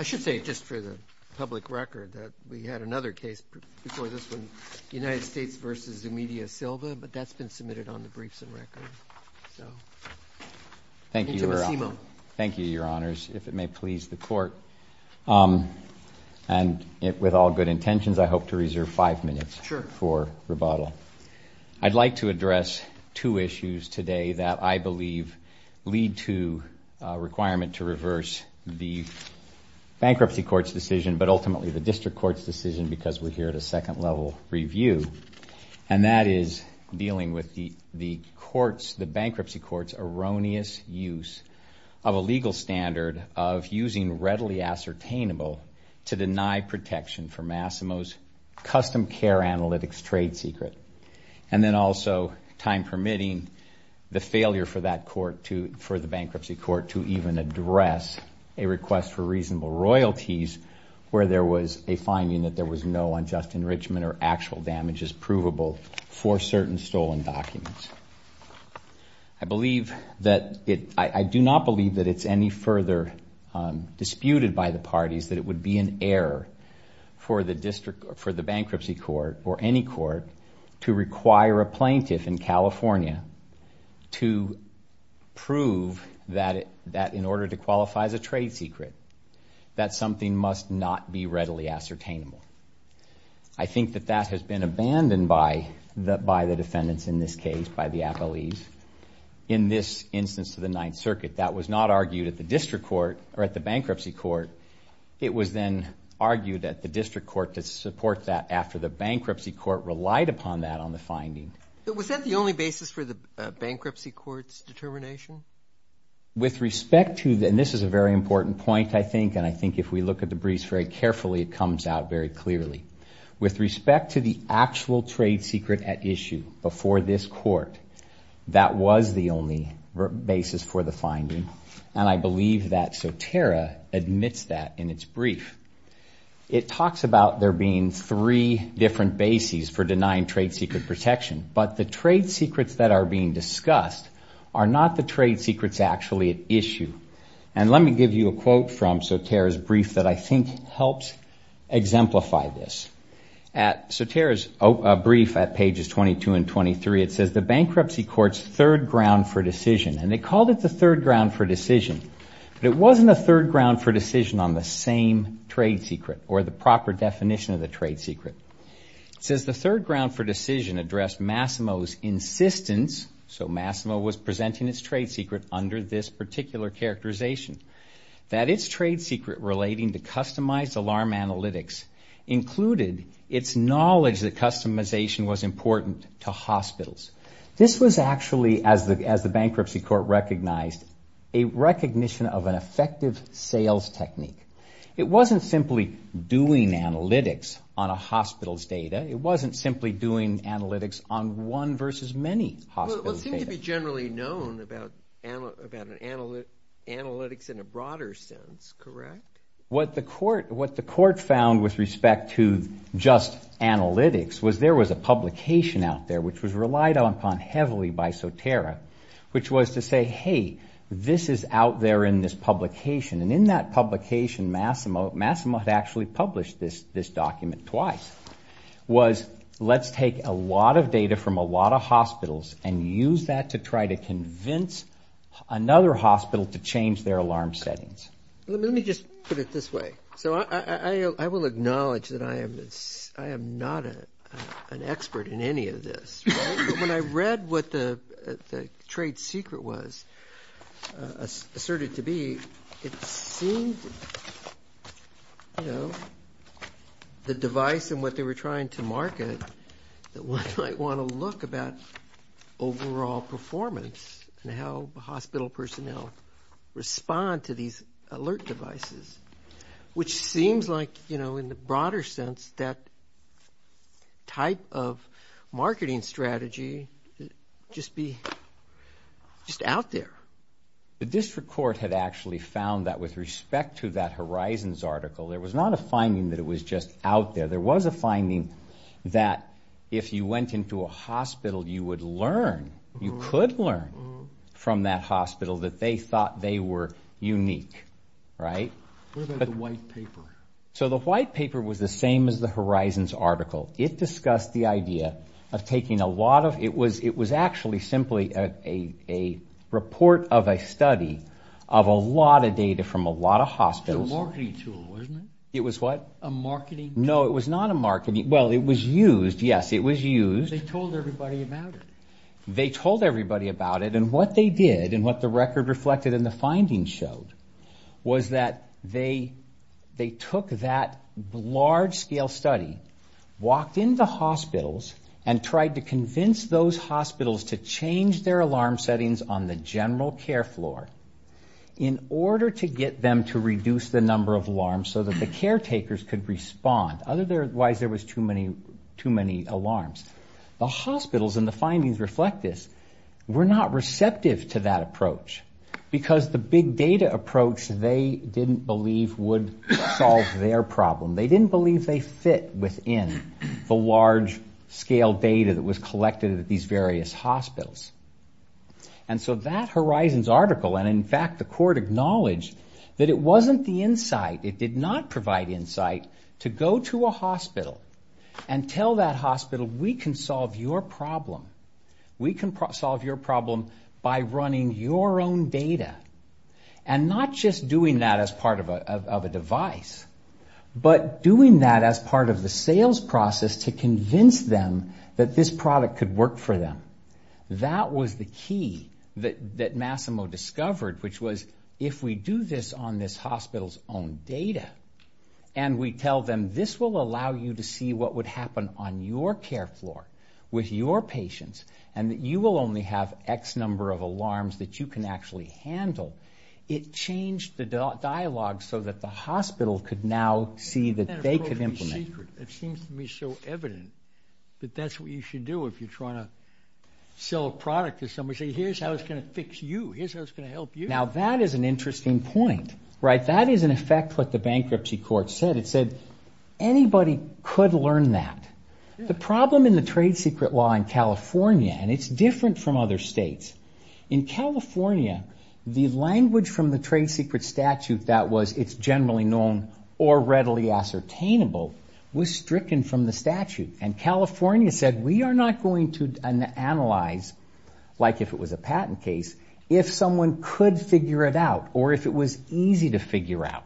I should say, just for the public record, that we had another case before this one, United States v. Zimmedia Silva, but that's been submitted on the briefs and records. Thank you, Your Honors. If it may please the Court, and with all good intentions, I hope to reserve five minutes for rebuttal. Sure. I'd like to address two issues today that I believe lead to a requirement to reverse the Bankruptcy Court's decision, but ultimately the District Court's decision, because we're here at a second-level review, and that is dealing with the Bankruptcy Court's erroneous use of a legal standard of using readily ascertainable to deny protection for Masimo's custom care analytics trade secret, and then also, time-permitting, the failure for the Bankruptcy Court to even address a request for reasonable royalties where there was a finding that there was no unjust enrichment or actual damages provable for certain stolen documents. I do not believe that it's any further disputed by the parties that it would be an error for the Bankruptcy Court, or any court, to require a plaintiff in California to prove that in order to qualify as a trade secret, that something must not be readily ascertainable. I think that that has been abandoned by the defendants in this case, by the appellees. In this instance of the Ninth Circuit, that was not argued at the Bankruptcy Court. It was then argued at the District Court to support that after the Bankruptcy Court relied upon that on the finding. Was that the only basis for the Bankruptcy Court's determination? With respect to the, and this is a very important point, I think, and I think if we look at the briefs very carefully, it comes out very clearly. With respect to the actual trade secret at issue before this court, that was the only basis for the finding, and I believe that Sotera admits that in its brief. It talks about there being three different bases for denying trade secret protection, but the trade secrets that are being discussed are not the trade secrets actually at issue. Let me give you a quote from Sotera's brief that I think helps exemplify this. Sotera's brief at pages 22 and 23, it says, the Bankruptcy Court's third ground for decision, and they called it the third ground for decision, but it wasn't a third ground for decision on the same trade secret or the proper definition of the trade secret. It says, the third ground for decision addressed Massimo's insistence, so Massimo was presenting its trade secret under this particular characterization, that its trade secret relating to customized alarm analytics included its knowledge that customization was important to hospitals. This was actually, as the Bankruptcy Court recognized, a recognition of an effective sales technique. It wasn't simply doing analytics on a hospital's data. It wasn't simply doing analytics on one versus many hospitals' data. Well, it seemed to be generally known about analytics in a broader sense, correct? What the court found with respect to just analytics was there was a publication out there which was relied upon heavily by Sotera, which was to say, hey, this is out there in this publication, and in that publication, Massimo had actually published this document twice, was let's take a lot of data from a lot of hospitals and use that to try to convince another hospital to change their alarm settings. Let me just put it this way. So I will acknowledge that I am not an expert in any of this, but when I read what the trade secret was asserted to be, it seemed, you know, the device and what they were trying to market that one might want to look about overall performance and how hospital personnel respond to these alert devices, which seems like, you know, in the broader sense, that type of marketing strategy just be just out there. The district court had actually found that with respect to that Horizons article, there was not a finding that it was just out there. There was a finding that if you went into a hospital, you would learn, you could learn from that hospital that they thought they were unique, right? So the white paper was the same as the Horizons article. It discussed the idea of taking a lot of, it was actually simply a report of a study of a lot of data from a lot of hospitals. It was what? A marketing tool. No, it was not a marketing tool. Well, it was used. Yes, it was used. They told everybody about it. They told everybody about it and what they did and what the record reflected in the findings showed was that they took that large scale study, walked into hospitals, and tried to convince those hospitals to change their alarm settings on the general care floor in order to get them to reduce the number of alarms so that the caretakers could respond, otherwise there was too many alarms. The hospitals, and the findings reflect this, were not receptive to that approach because the big data approach they didn't believe would solve their problem. They didn't believe they fit within the large scale data that was collected at these various hospitals. And so that Horizons article, and in fact the court acknowledged that it wasn't the We can solve your problem. We can solve your problem by running your own data. And not just doing that as part of a device, but doing that as part of the sales process to convince them that this product could work for them. That was the key that Massimo discovered, which was if we do this on this hospital's own data, and we tell them this will allow you to see what would happen on your care floor with your patients, and that you will only have X number of alarms that you can actually handle, it changed the dialogue so that the hospital could now see that they could implement. It seems to me so evident that that's what you should do if you're trying to sell a product to somebody. Say here's how it's going to fix you. Here's how it's going to help you. Now that is an interesting point. That is in effect what the bankruptcy court said. It said anybody could learn that. The problem in the trade secret law in California, and it's different from other states. In California, the language from the trade secret statute that was it's generally known or readily ascertainable was stricken from the statute. And California said we are not going to analyze, like if it was a patent case, if someone could figure it out, or if it was easy to figure out.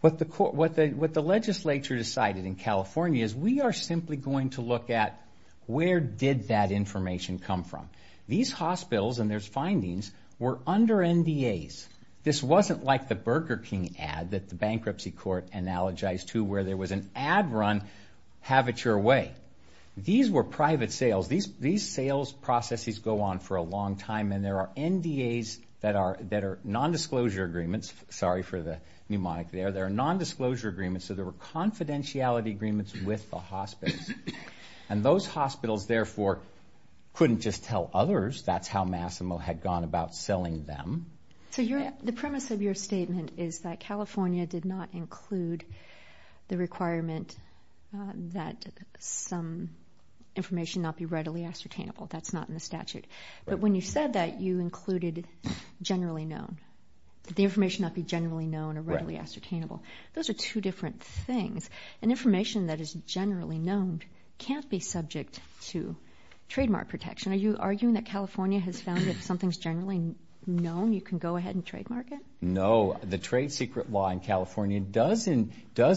What the legislature decided in California is we are simply going to look at where did that information come from. These hospitals and their findings were under NDAs. This wasn't like the Burger King ad that the bankruptcy court analogized to where there was an ad run, have it your way. These were private sales. These sales processes go on for a long time, and there are NDAs that are nondisclosure agreements. Sorry for the mnemonic there. There are nondisclosure agreements, so there were confidentiality agreements with the hospitals. And those hospitals, therefore, couldn't just tell others that's how Massimo had gone about selling them. So the premise of your statement is that California did not include the requirement that some information be readily ascertainable. That's not in the statute. But when you said that you included generally known, that the information not be generally known or readily ascertainable, those are two different things. And information that is generally known can't be subject to trademark protection. Are you arguing that California has found that if something's generally known, you can go ahead and trademark it? No. The trade secret law in California does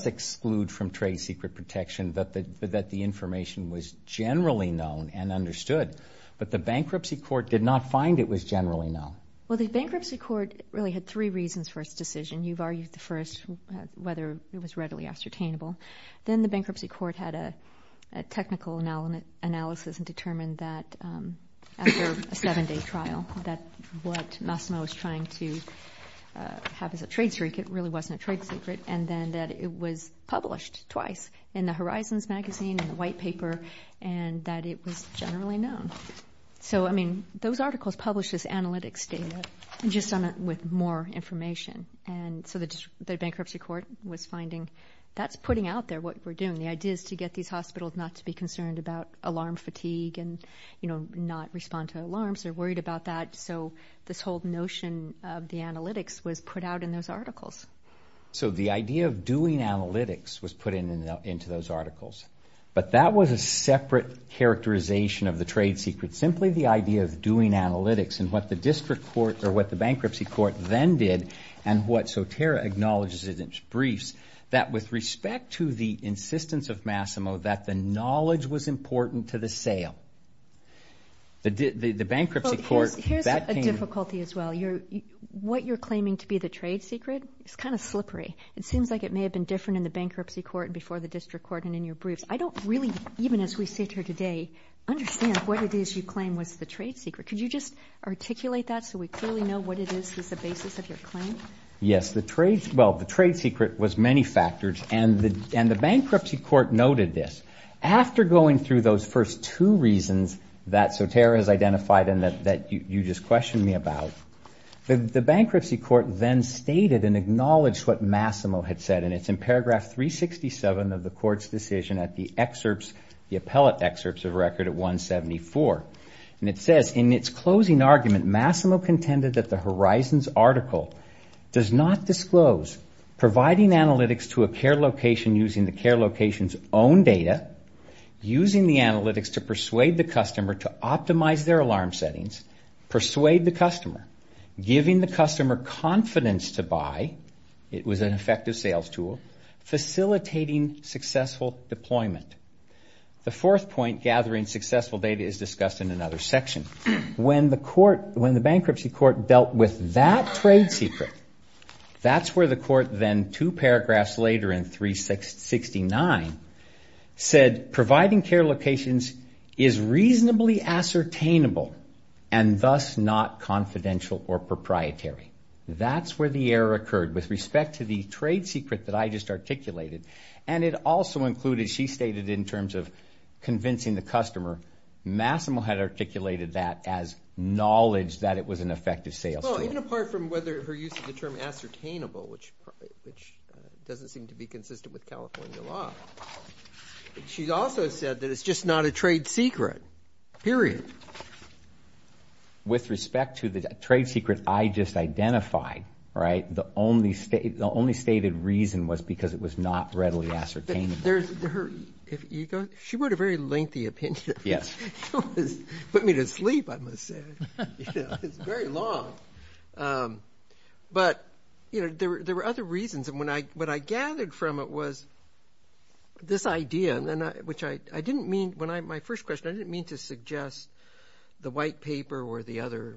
exclude from trade secret protection that the information was generally known and understood, but the bankruptcy court did not find it was generally known. Well, the bankruptcy court really had three reasons for its decision. You've argued the first, whether it was readily ascertainable. Then the bankruptcy court had a technical analysis and determined that after a seven-day trial, that what Massimo was trying to have as a trade secret really wasn't a trade secret, and then that it was published twice in the Horizons magazine, in the white paper, and that it was generally known. So I mean, those articles publish this analytics data just with more information. And so the bankruptcy court was finding that's putting out there what we're doing. The idea is to get these hospitals not to be concerned about alarm fatigue and not respond to alarms. They're worried about that. So this whole notion of the analytics was put out in those articles. So the idea of doing analytics was put into those articles. But that was a separate characterization of the trade secret, simply the idea of doing analytics and what the bankruptcy court then did and what Sotera acknowledges in its briefs, that with respect to the insistence of Massimo, that the knowledge was important to the sale. The bankruptcy court, that came in. Here's a difficulty as well. What you're claiming to be the trade secret is kind of slippery. It seems like it may have been different in the bankruptcy court and before the district court and in your briefs. I don't really, even as we sit here today, understand what it is you claim was the trade secret. Could you just articulate that so we clearly know what it is that's the basis of your claim? Yes. Well, the trade secret was many factors, and the bankruptcy court noted this. After going through those first two reasons that Sotera has identified and that you just The bankruptcy court then stated and acknowledged what Massimo had said, and it's in paragraph 367 of the court's decision at the excerpts, the appellate excerpts of record at 174. It says, in its closing argument, Massimo contended that the Horizons article does not disclose providing analytics to a care location using the care location's own data, using the analytics to persuade the customer to optimize their alarm settings, persuade the customer, giving the customer confidence to buy, it was an effective sales tool, facilitating successful deployment. The fourth point, gathering successful data, is discussed in another section. When the bankruptcy court dealt with that trade secret, that's where the court then two paragraphs later in 369 said providing care locations is reasonably ascertainable and thus not confidential or proprietary. That's where the error occurred with respect to the trade secret that I just articulated, and it also included, she stated in terms of convincing the customer, Massimo had articulated that as knowledge that it was an effective sales tool. Even apart from whether her use of the term ascertainable, which doesn't seem to be consistent with California law, she also said that it's just not a trade secret, period. With respect to the trade secret I just identified, the only stated reason was because it was not readily ascertainable. She wrote a very lengthy opinion. Yes. It put me to sleep, I must say. It's very long, but there were other reasons, and what I gathered from it was this idea, which I didn't mean, when I, my first question, I didn't mean to suggest the white paper or the other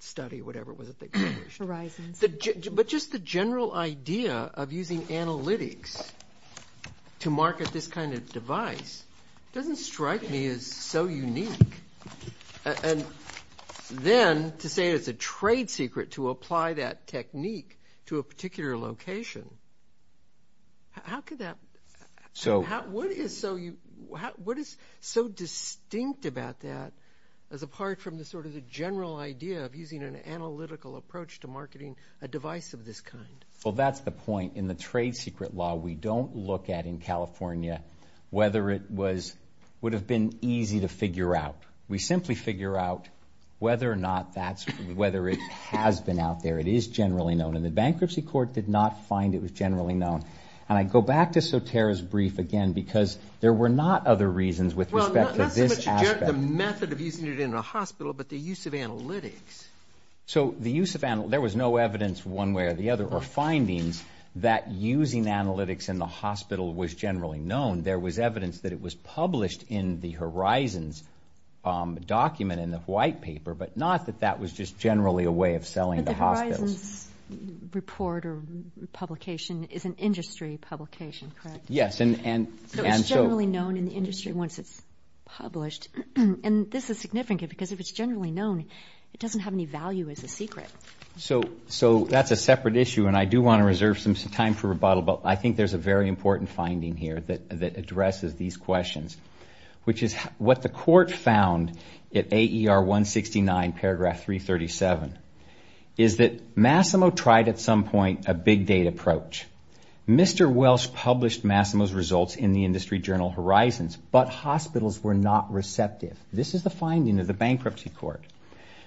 study, whatever it was that they published. But just the general idea of using analytics to market this kind of device doesn't strike me as so unique. And then to say it's a trade secret to apply that technique to a particular location, how could that, what is so, what is so distinct about that as apart from the sort of the general idea of using an analytical approach to marketing a device of this kind? Well, that's the point. In the trade secret law, we don't look at in California whether it was, would have been easy to figure out. We simply figure out whether or not that's, whether it has been out there. It is generally known. And the bankruptcy court did not find it was generally known. And I go back to Sotera's brief again because there were not other reasons with respect to this aspect. Well, not so much the method of using it in a hospital, but the use of analytics. So the use of analytics, there was no evidence one way or the other or findings that using analytics in the hospital was generally known. There was evidence that it was published in the Horizons document in the white paper, but not that that was just generally a way of selling the hospitals. But the Horizons report or publication is an industry publication, correct? Yes. And so... So it's generally known in the industry once it's published. And this is significant because if it's generally known, it doesn't have any value as a secret. So that's a separate issue and I do want to reserve some time for rebuttal, but I think there's a very important finding here that addresses these questions, which is what the court found at AER 169 paragraph 337 is that Massimo tried at some point a big data approach. Mr. Welsh published Massimo's results in the industry journal Horizons, but hospitals were not receptive. This is the finding of the bankruptcy court.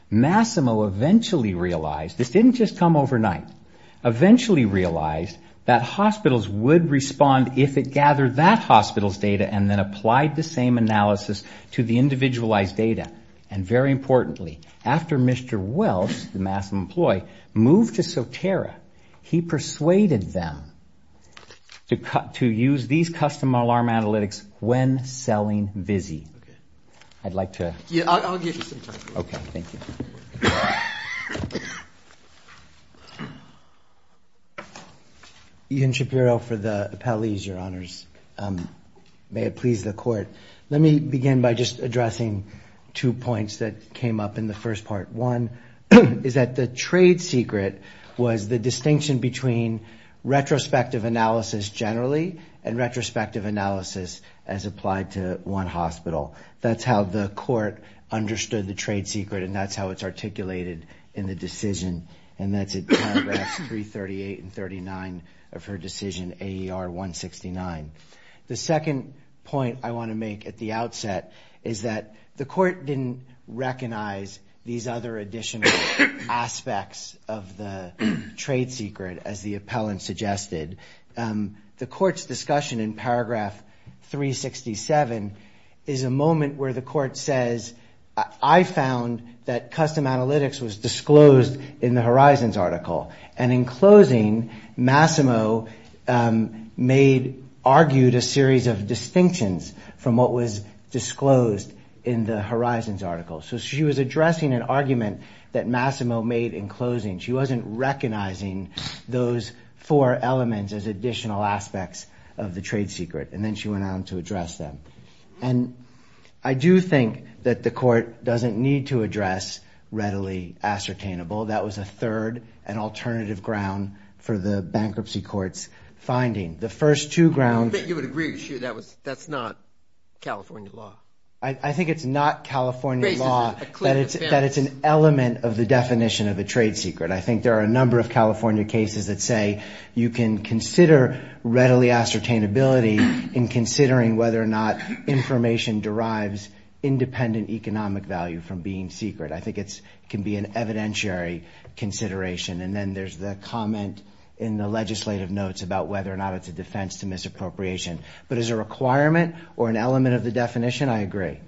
Massimo eventually realized, this didn't just come overnight, eventually realized that hospitals would respond if it gathered that hospital's data and then applied the same analysis to the individualized data. And very importantly, after Mr. Welsh, the Massimo employee, moved to Sotera, he persuaded them to use these custom alarm analytics when selling Visi. I'd like to... Yeah, I'll give you some time. Okay. Thank you. Ian Shapiro for the appellees, your honors. May it please the court. Let me begin by just addressing two points that came up in the first part. One is that the trade secret was the distinction between retrospective analysis generally and retrospective analysis as applied to one hospital. That's how the court understood the trade secret and that's how it's articulated in the decision. And that's at paragraph 338 and 39 of her decision, AER 169. The second point I want to make at the outset is that the court didn't recognize these other additional aspects of the trade secret as the appellant suggested. The court's discussion in paragraph 367 is a moment where the court says, I found that custom analytics was disclosed in the Horizons article. And in closing, Massimo made, argued a series of distinctions from what was disclosed in the Horizons article. So she was addressing an argument that Massimo made in closing. She wasn't recognizing those four elements as additional aspects of the trade secret. And then she went on to address them. And I do think that the court doesn't need to address readily ascertainable. That was a third and alternative ground for the bankruptcy court's finding. The first two grounds. I don't think you would agree with that. That's not California law. I think it's not California law that it's an element of the definition of a trade secret. I think there are a number of California cases that say you can consider readily ascertainability in considering whether or not information derives independent economic value from being secret. I think it can be an evidentiary consideration. And then there's the comment in the legislative notes about whether or not it's a defense to misappropriation. But as a requirement or an element of the definition, I agree.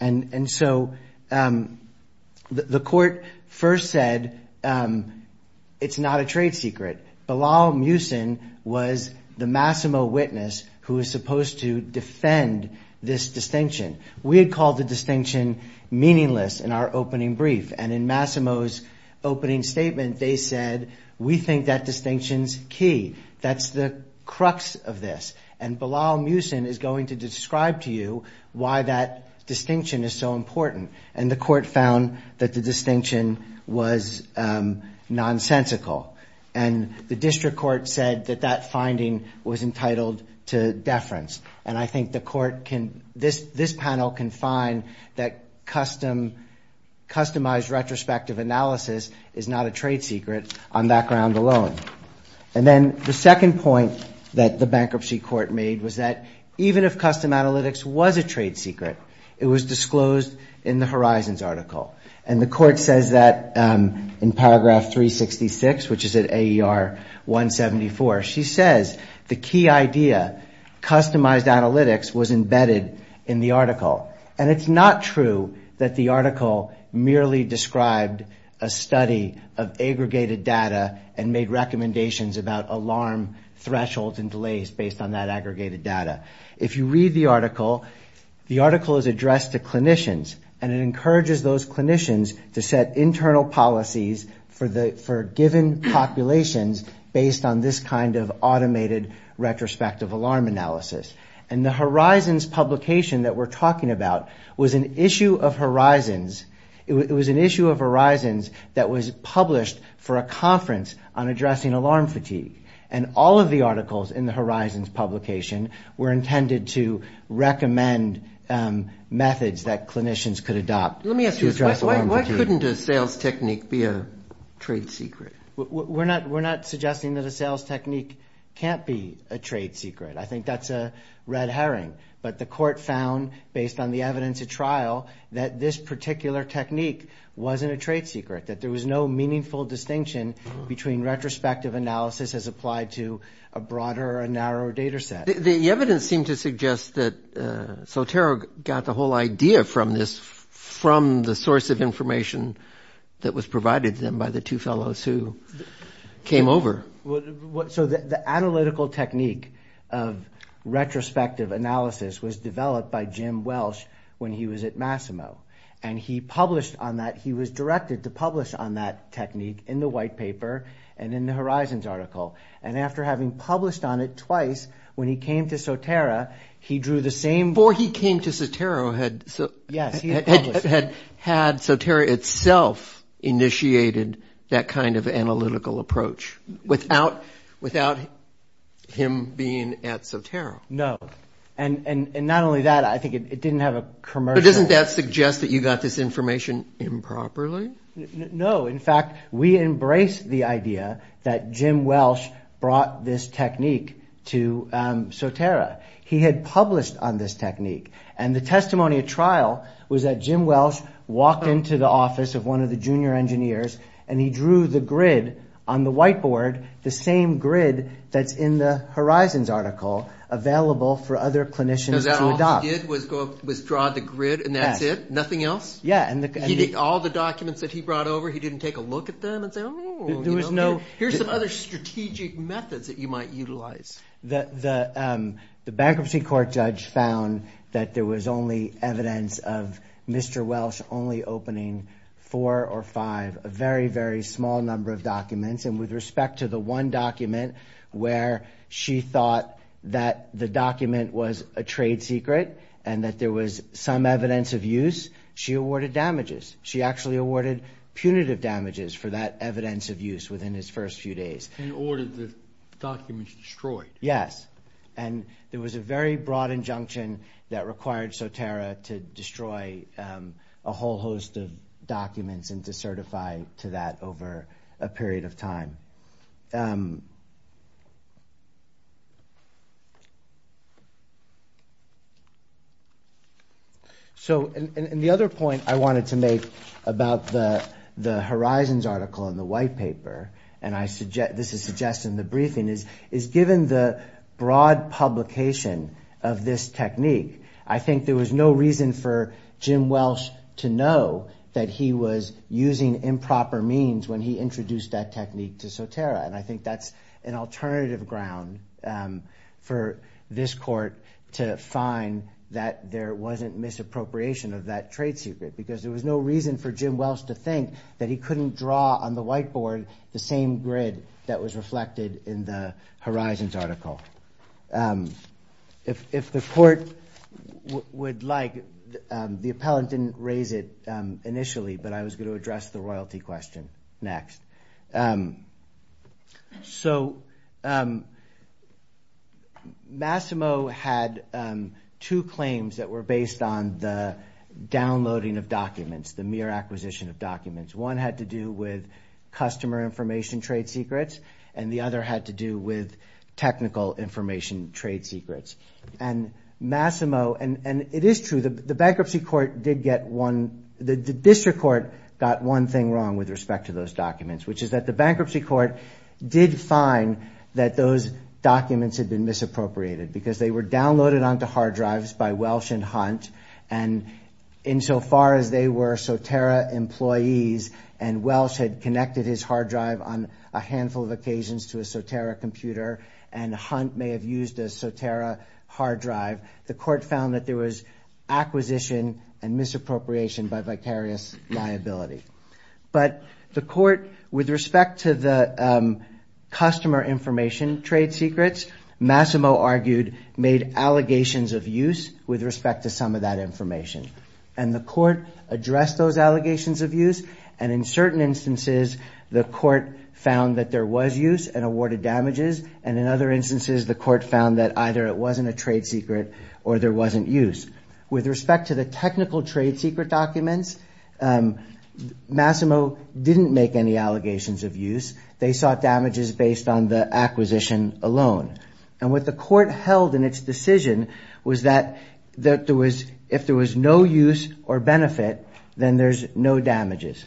And so the court first said it's not a trade secret. Bilal Musin was the Massimo witness who was supposed to defend this distinction. We had called the distinction meaningless in our opening brief. And in Massimo's opening statement, they said, we think that distinction's key. That's the crux of this. And Bilal Musin is going to describe to you why that distinction is so important. And the court found that the distinction was nonsensical. And the district court said that that finding was entitled to deference. And I think this panel can find that customized retrospective analysis is not a trade secret on that ground alone. And then the second point that the bankruptcy court made was that even if custom analytics was a trade secret, it was disclosed in the Horizons article. And the court says that in paragraph 366, which is at AER 174. She says the key idea, customized analytics, was embedded in the article. And it's not true that the article merely described a study of aggregated data and made recommendations about alarm thresholds and delays based on that aggregated data. If you read the article, the article is addressed to clinicians. And it encourages those clinicians to set internal policies for given populations based on this kind of automated retrospective alarm analysis. And the Horizons publication that we're talking about was an issue of Horizons. That was published for a conference on addressing alarm fatigue. And all of the articles in the Horizons publication were intended to recommend methods that clinicians could adopt. Let me ask you a question. Why couldn't a sales technique be a trade secret? We're not suggesting that a sales technique can't be a trade secret. I think that's a red herring. But the court found, based on the evidence at trial, that this particular technique wasn't a trade secret, that there was no meaningful distinction between retrospective analysis as applied to a broader or a narrower data set. The evidence seemed to suggest that Sotero got the whole idea from this, from the source of information that was provided to them by the two fellows who came over. So the analytical technique of retrospective analysis was developed by Jim Welsh when he was at Massimo. And he published on that, he was directed to publish on that technique in the White Paper and in the Horizons article. And after having published on it twice, when he came to Sotero, he drew the same... Before he came to Sotero, had Sotero itself initiated that kind of analytical approach without him being at Sotero? No. And not only that, I think it didn't have a commercial... It didn't suggest that you got this information improperly? No. In fact, we embraced the idea that Jim Welsh brought this technique to Sotero. He had published on this technique. And the testimony at trial was that Jim Welsh walked into the office of one of the junior engineers and he drew the grid on the whiteboard, the same grid that's in the Horizons article, available for other clinicians to adopt. All he did was draw the grid and that's it? Nothing else? Yeah. He did all the documents that he brought over? He didn't take a look at them and say, oh, you know... Here's some other strategic methods that you might utilize. The bankruptcy court judge found that there was only evidence of Mr. Welsh only opening four or five, a very, very small number of documents. And with respect to the one document where she thought that the document was a trade secret and that there was some evidence of use, she awarded damages. She actually awarded punitive damages for that evidence of use within his first few days. And ordered the documents destroyed? Yes. And there was a very broad injunction that required Sotero to destroy a whole host of So, and the other point I wanted to make about the Horizons article in the white paper, and this is suggested in the briefing, is given the broad publication of this technique, I think there was no reason for Jim Welsh to know that he was using improper means when he introduced that technique to Sotero. And I think that's an alternative ground for this court to find that there wasn't misappropriation of that trade secret. Because there was no reason for Jim Welsh to think that he couldn't draw on the white board the same grid that was reflected in the Horizons article. If the court would like, the appellant didn't raise it initially, but I was going to address the royalty question next. So Massimo had two claims that were based on the downloading of documents, the mere acquisition of documents. One had to do with customer information trade secrets, and the other had to do with technical information trade secrets. And Massimo, and it is true, the bankruptcy court did get one, the district court got one thing wrong with respect to those documents, which is that the bankruptcy court did find that those documents had been misappropriated because they were downloaded onto hard drives by Welsh and Hunt, and insofar as they were Sotero employees and Welsh had connected his hard drive, the court found that there was acquisition and misappropriation by vicarious liability. But the court, with respect to the customer information trade secrets, Massimo argued made allegations of use with respect to some of that information. And the court addressed those allegations of use, and in certain instances the court found that there was use and awarded damages, and in other instances the court found that either it wasn't a trade secret or there wasn't use. With respect to the technical trade secret documents, Massimo didn't make any allegations of use. They sought damages based on the acquisition alone. And what the court held in its decision was that if there was no use or benefit, then there's no damages.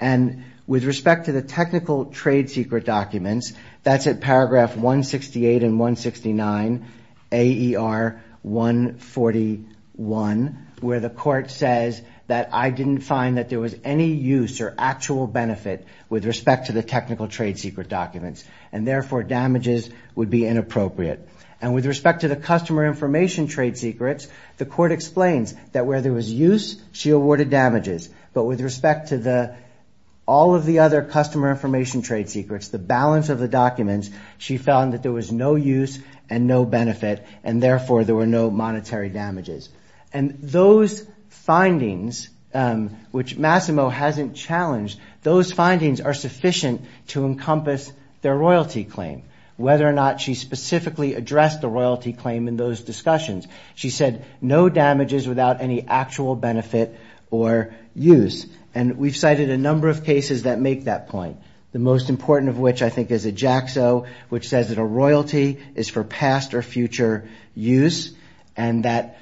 And with respect to the technical trade secret documents, that's at paragraph 168 and 169 AER 141, where the court says that I didn't find that there was any use or actual benefit with respect to the technical trade secret documents, and therefore damages would be inappropriate. And with respect to the customer information trade secrets, the court explains that where there was use, she awarded damages. But with respect to all of the other customer information trade secrets, the balance of the documents, she found that there was no use and no benefit, and therefore there were no monetary damages. And those findings, which Massimo hasn't challenged, those findings are sufficient to encompass their royalty claim, whether or not she specifically addressed the royalty claim in those discussions. She said no damages without any actual benefit or use. And we've cited a number of cases that make that point. The most important of which I think is EJACSO, which says that a royalty is for past or future use, and that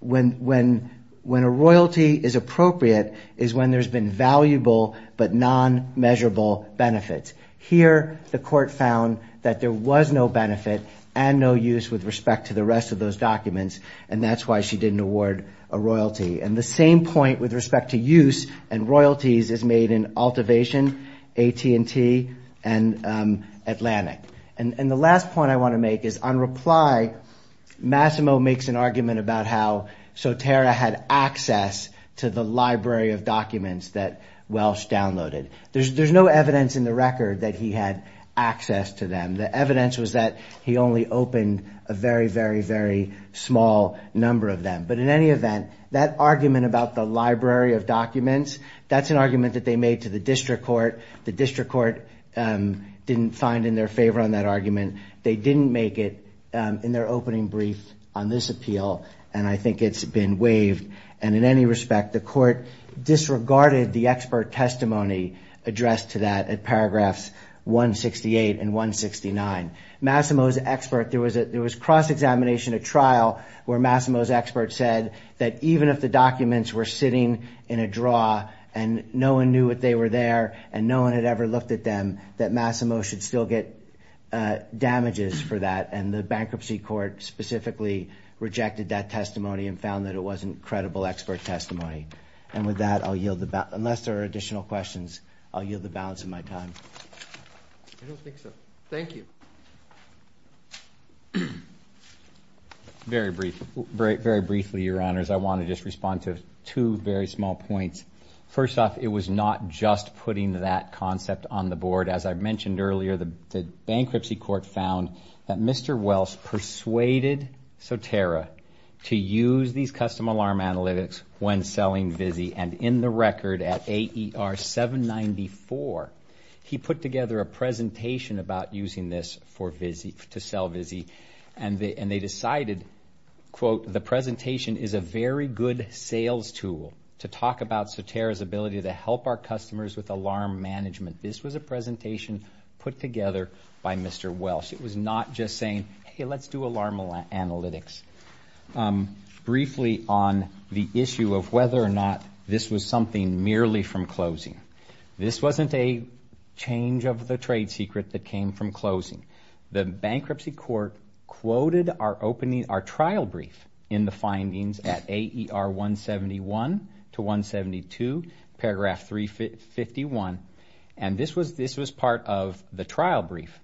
when a royalty is appropriate is when there's been valuable but non-measurable benefits. Here, the court found that there was no benefit and no use with respect to the rest of those documents, and that's why she didn't award a royalty. And the same point with respect to use and royalties is made in ALTIVATION, AT&T, and ATLANIC. And the last point I want to make is on reply, Massimo makes an argument about how Sotera had access to the library of documents that Welsh downloaded. There's no evidence in the record that he had access to them. The evidence was that he only opened a very, very, very small number of them. But in any event, that argument about the library of documents, that's an argument that they made to the district court. The district court didn't find in their favor on that argument. They didn't make it in their opening brief on this appeal, and I think it's been waived. And in any respect, the court disregarded the expert testimony addressed to that at paragraphs 168 and 169. Massimo's expert, there was cross-examination at trial where Massimo's expert said that even if the documents were sitting in a draw and no one knew that they were there and no one had ever looked at them, that Massimo should still get damages for that. And the bankruptcy court specifically rejected that testimony and found that it wasn't credible expert testimony. And with that, I'll yield the, unless there are additional questions, I'll yield the balance of my time. I don't think so. Thank you. Very briefly, your honors, I want to just respond to two very small points. First off, it was not just putting that concept on the board. As I mentioned earlier, the bankruptcy court found that Mr. Welch persuaded Sotera to use these custom alarm analytics when selling VZI, and in the record at AER 794, he put together a presentation about using this to sell VZI, and they decided, quote, the presentation is a very good sales tool to talk about Sotera's ability to help our customers with alarm management. This was a presentation put together by Mr. Welch. It was not just saying, hey, let's do alarm analytics. Briefly on the issue of whether or not this was something merely from closing, this wasn't a change of the trade secret that came from closing. The bankruptcy court quoted our trial brief in the findings at AER 171 to 172, paragraph 351, and this was part of the trial brief.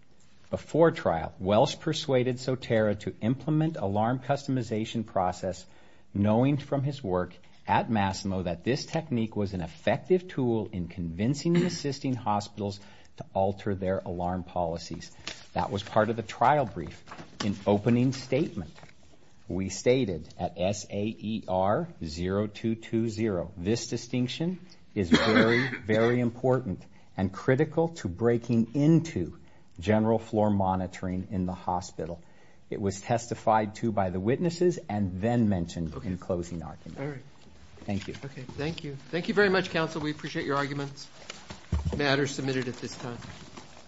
Before trial, Welch persuaded Sotera to implement alarm customization process, knowing from his work at Massimo that this technique was an effective tool in convincing and assisting hospitals to alter their alarm policies. That was part of the trial brief. In opening statement, we stated at SAER 0220, this distinction is very, very important and critical to breaking into general floor monitoring in the hospital. It was testified to by the witnesses and then mentioned in closing argument. Thank you. Thank you. Thank you very much, counsel. We appreciate your arguments. The matter is submitted at this time.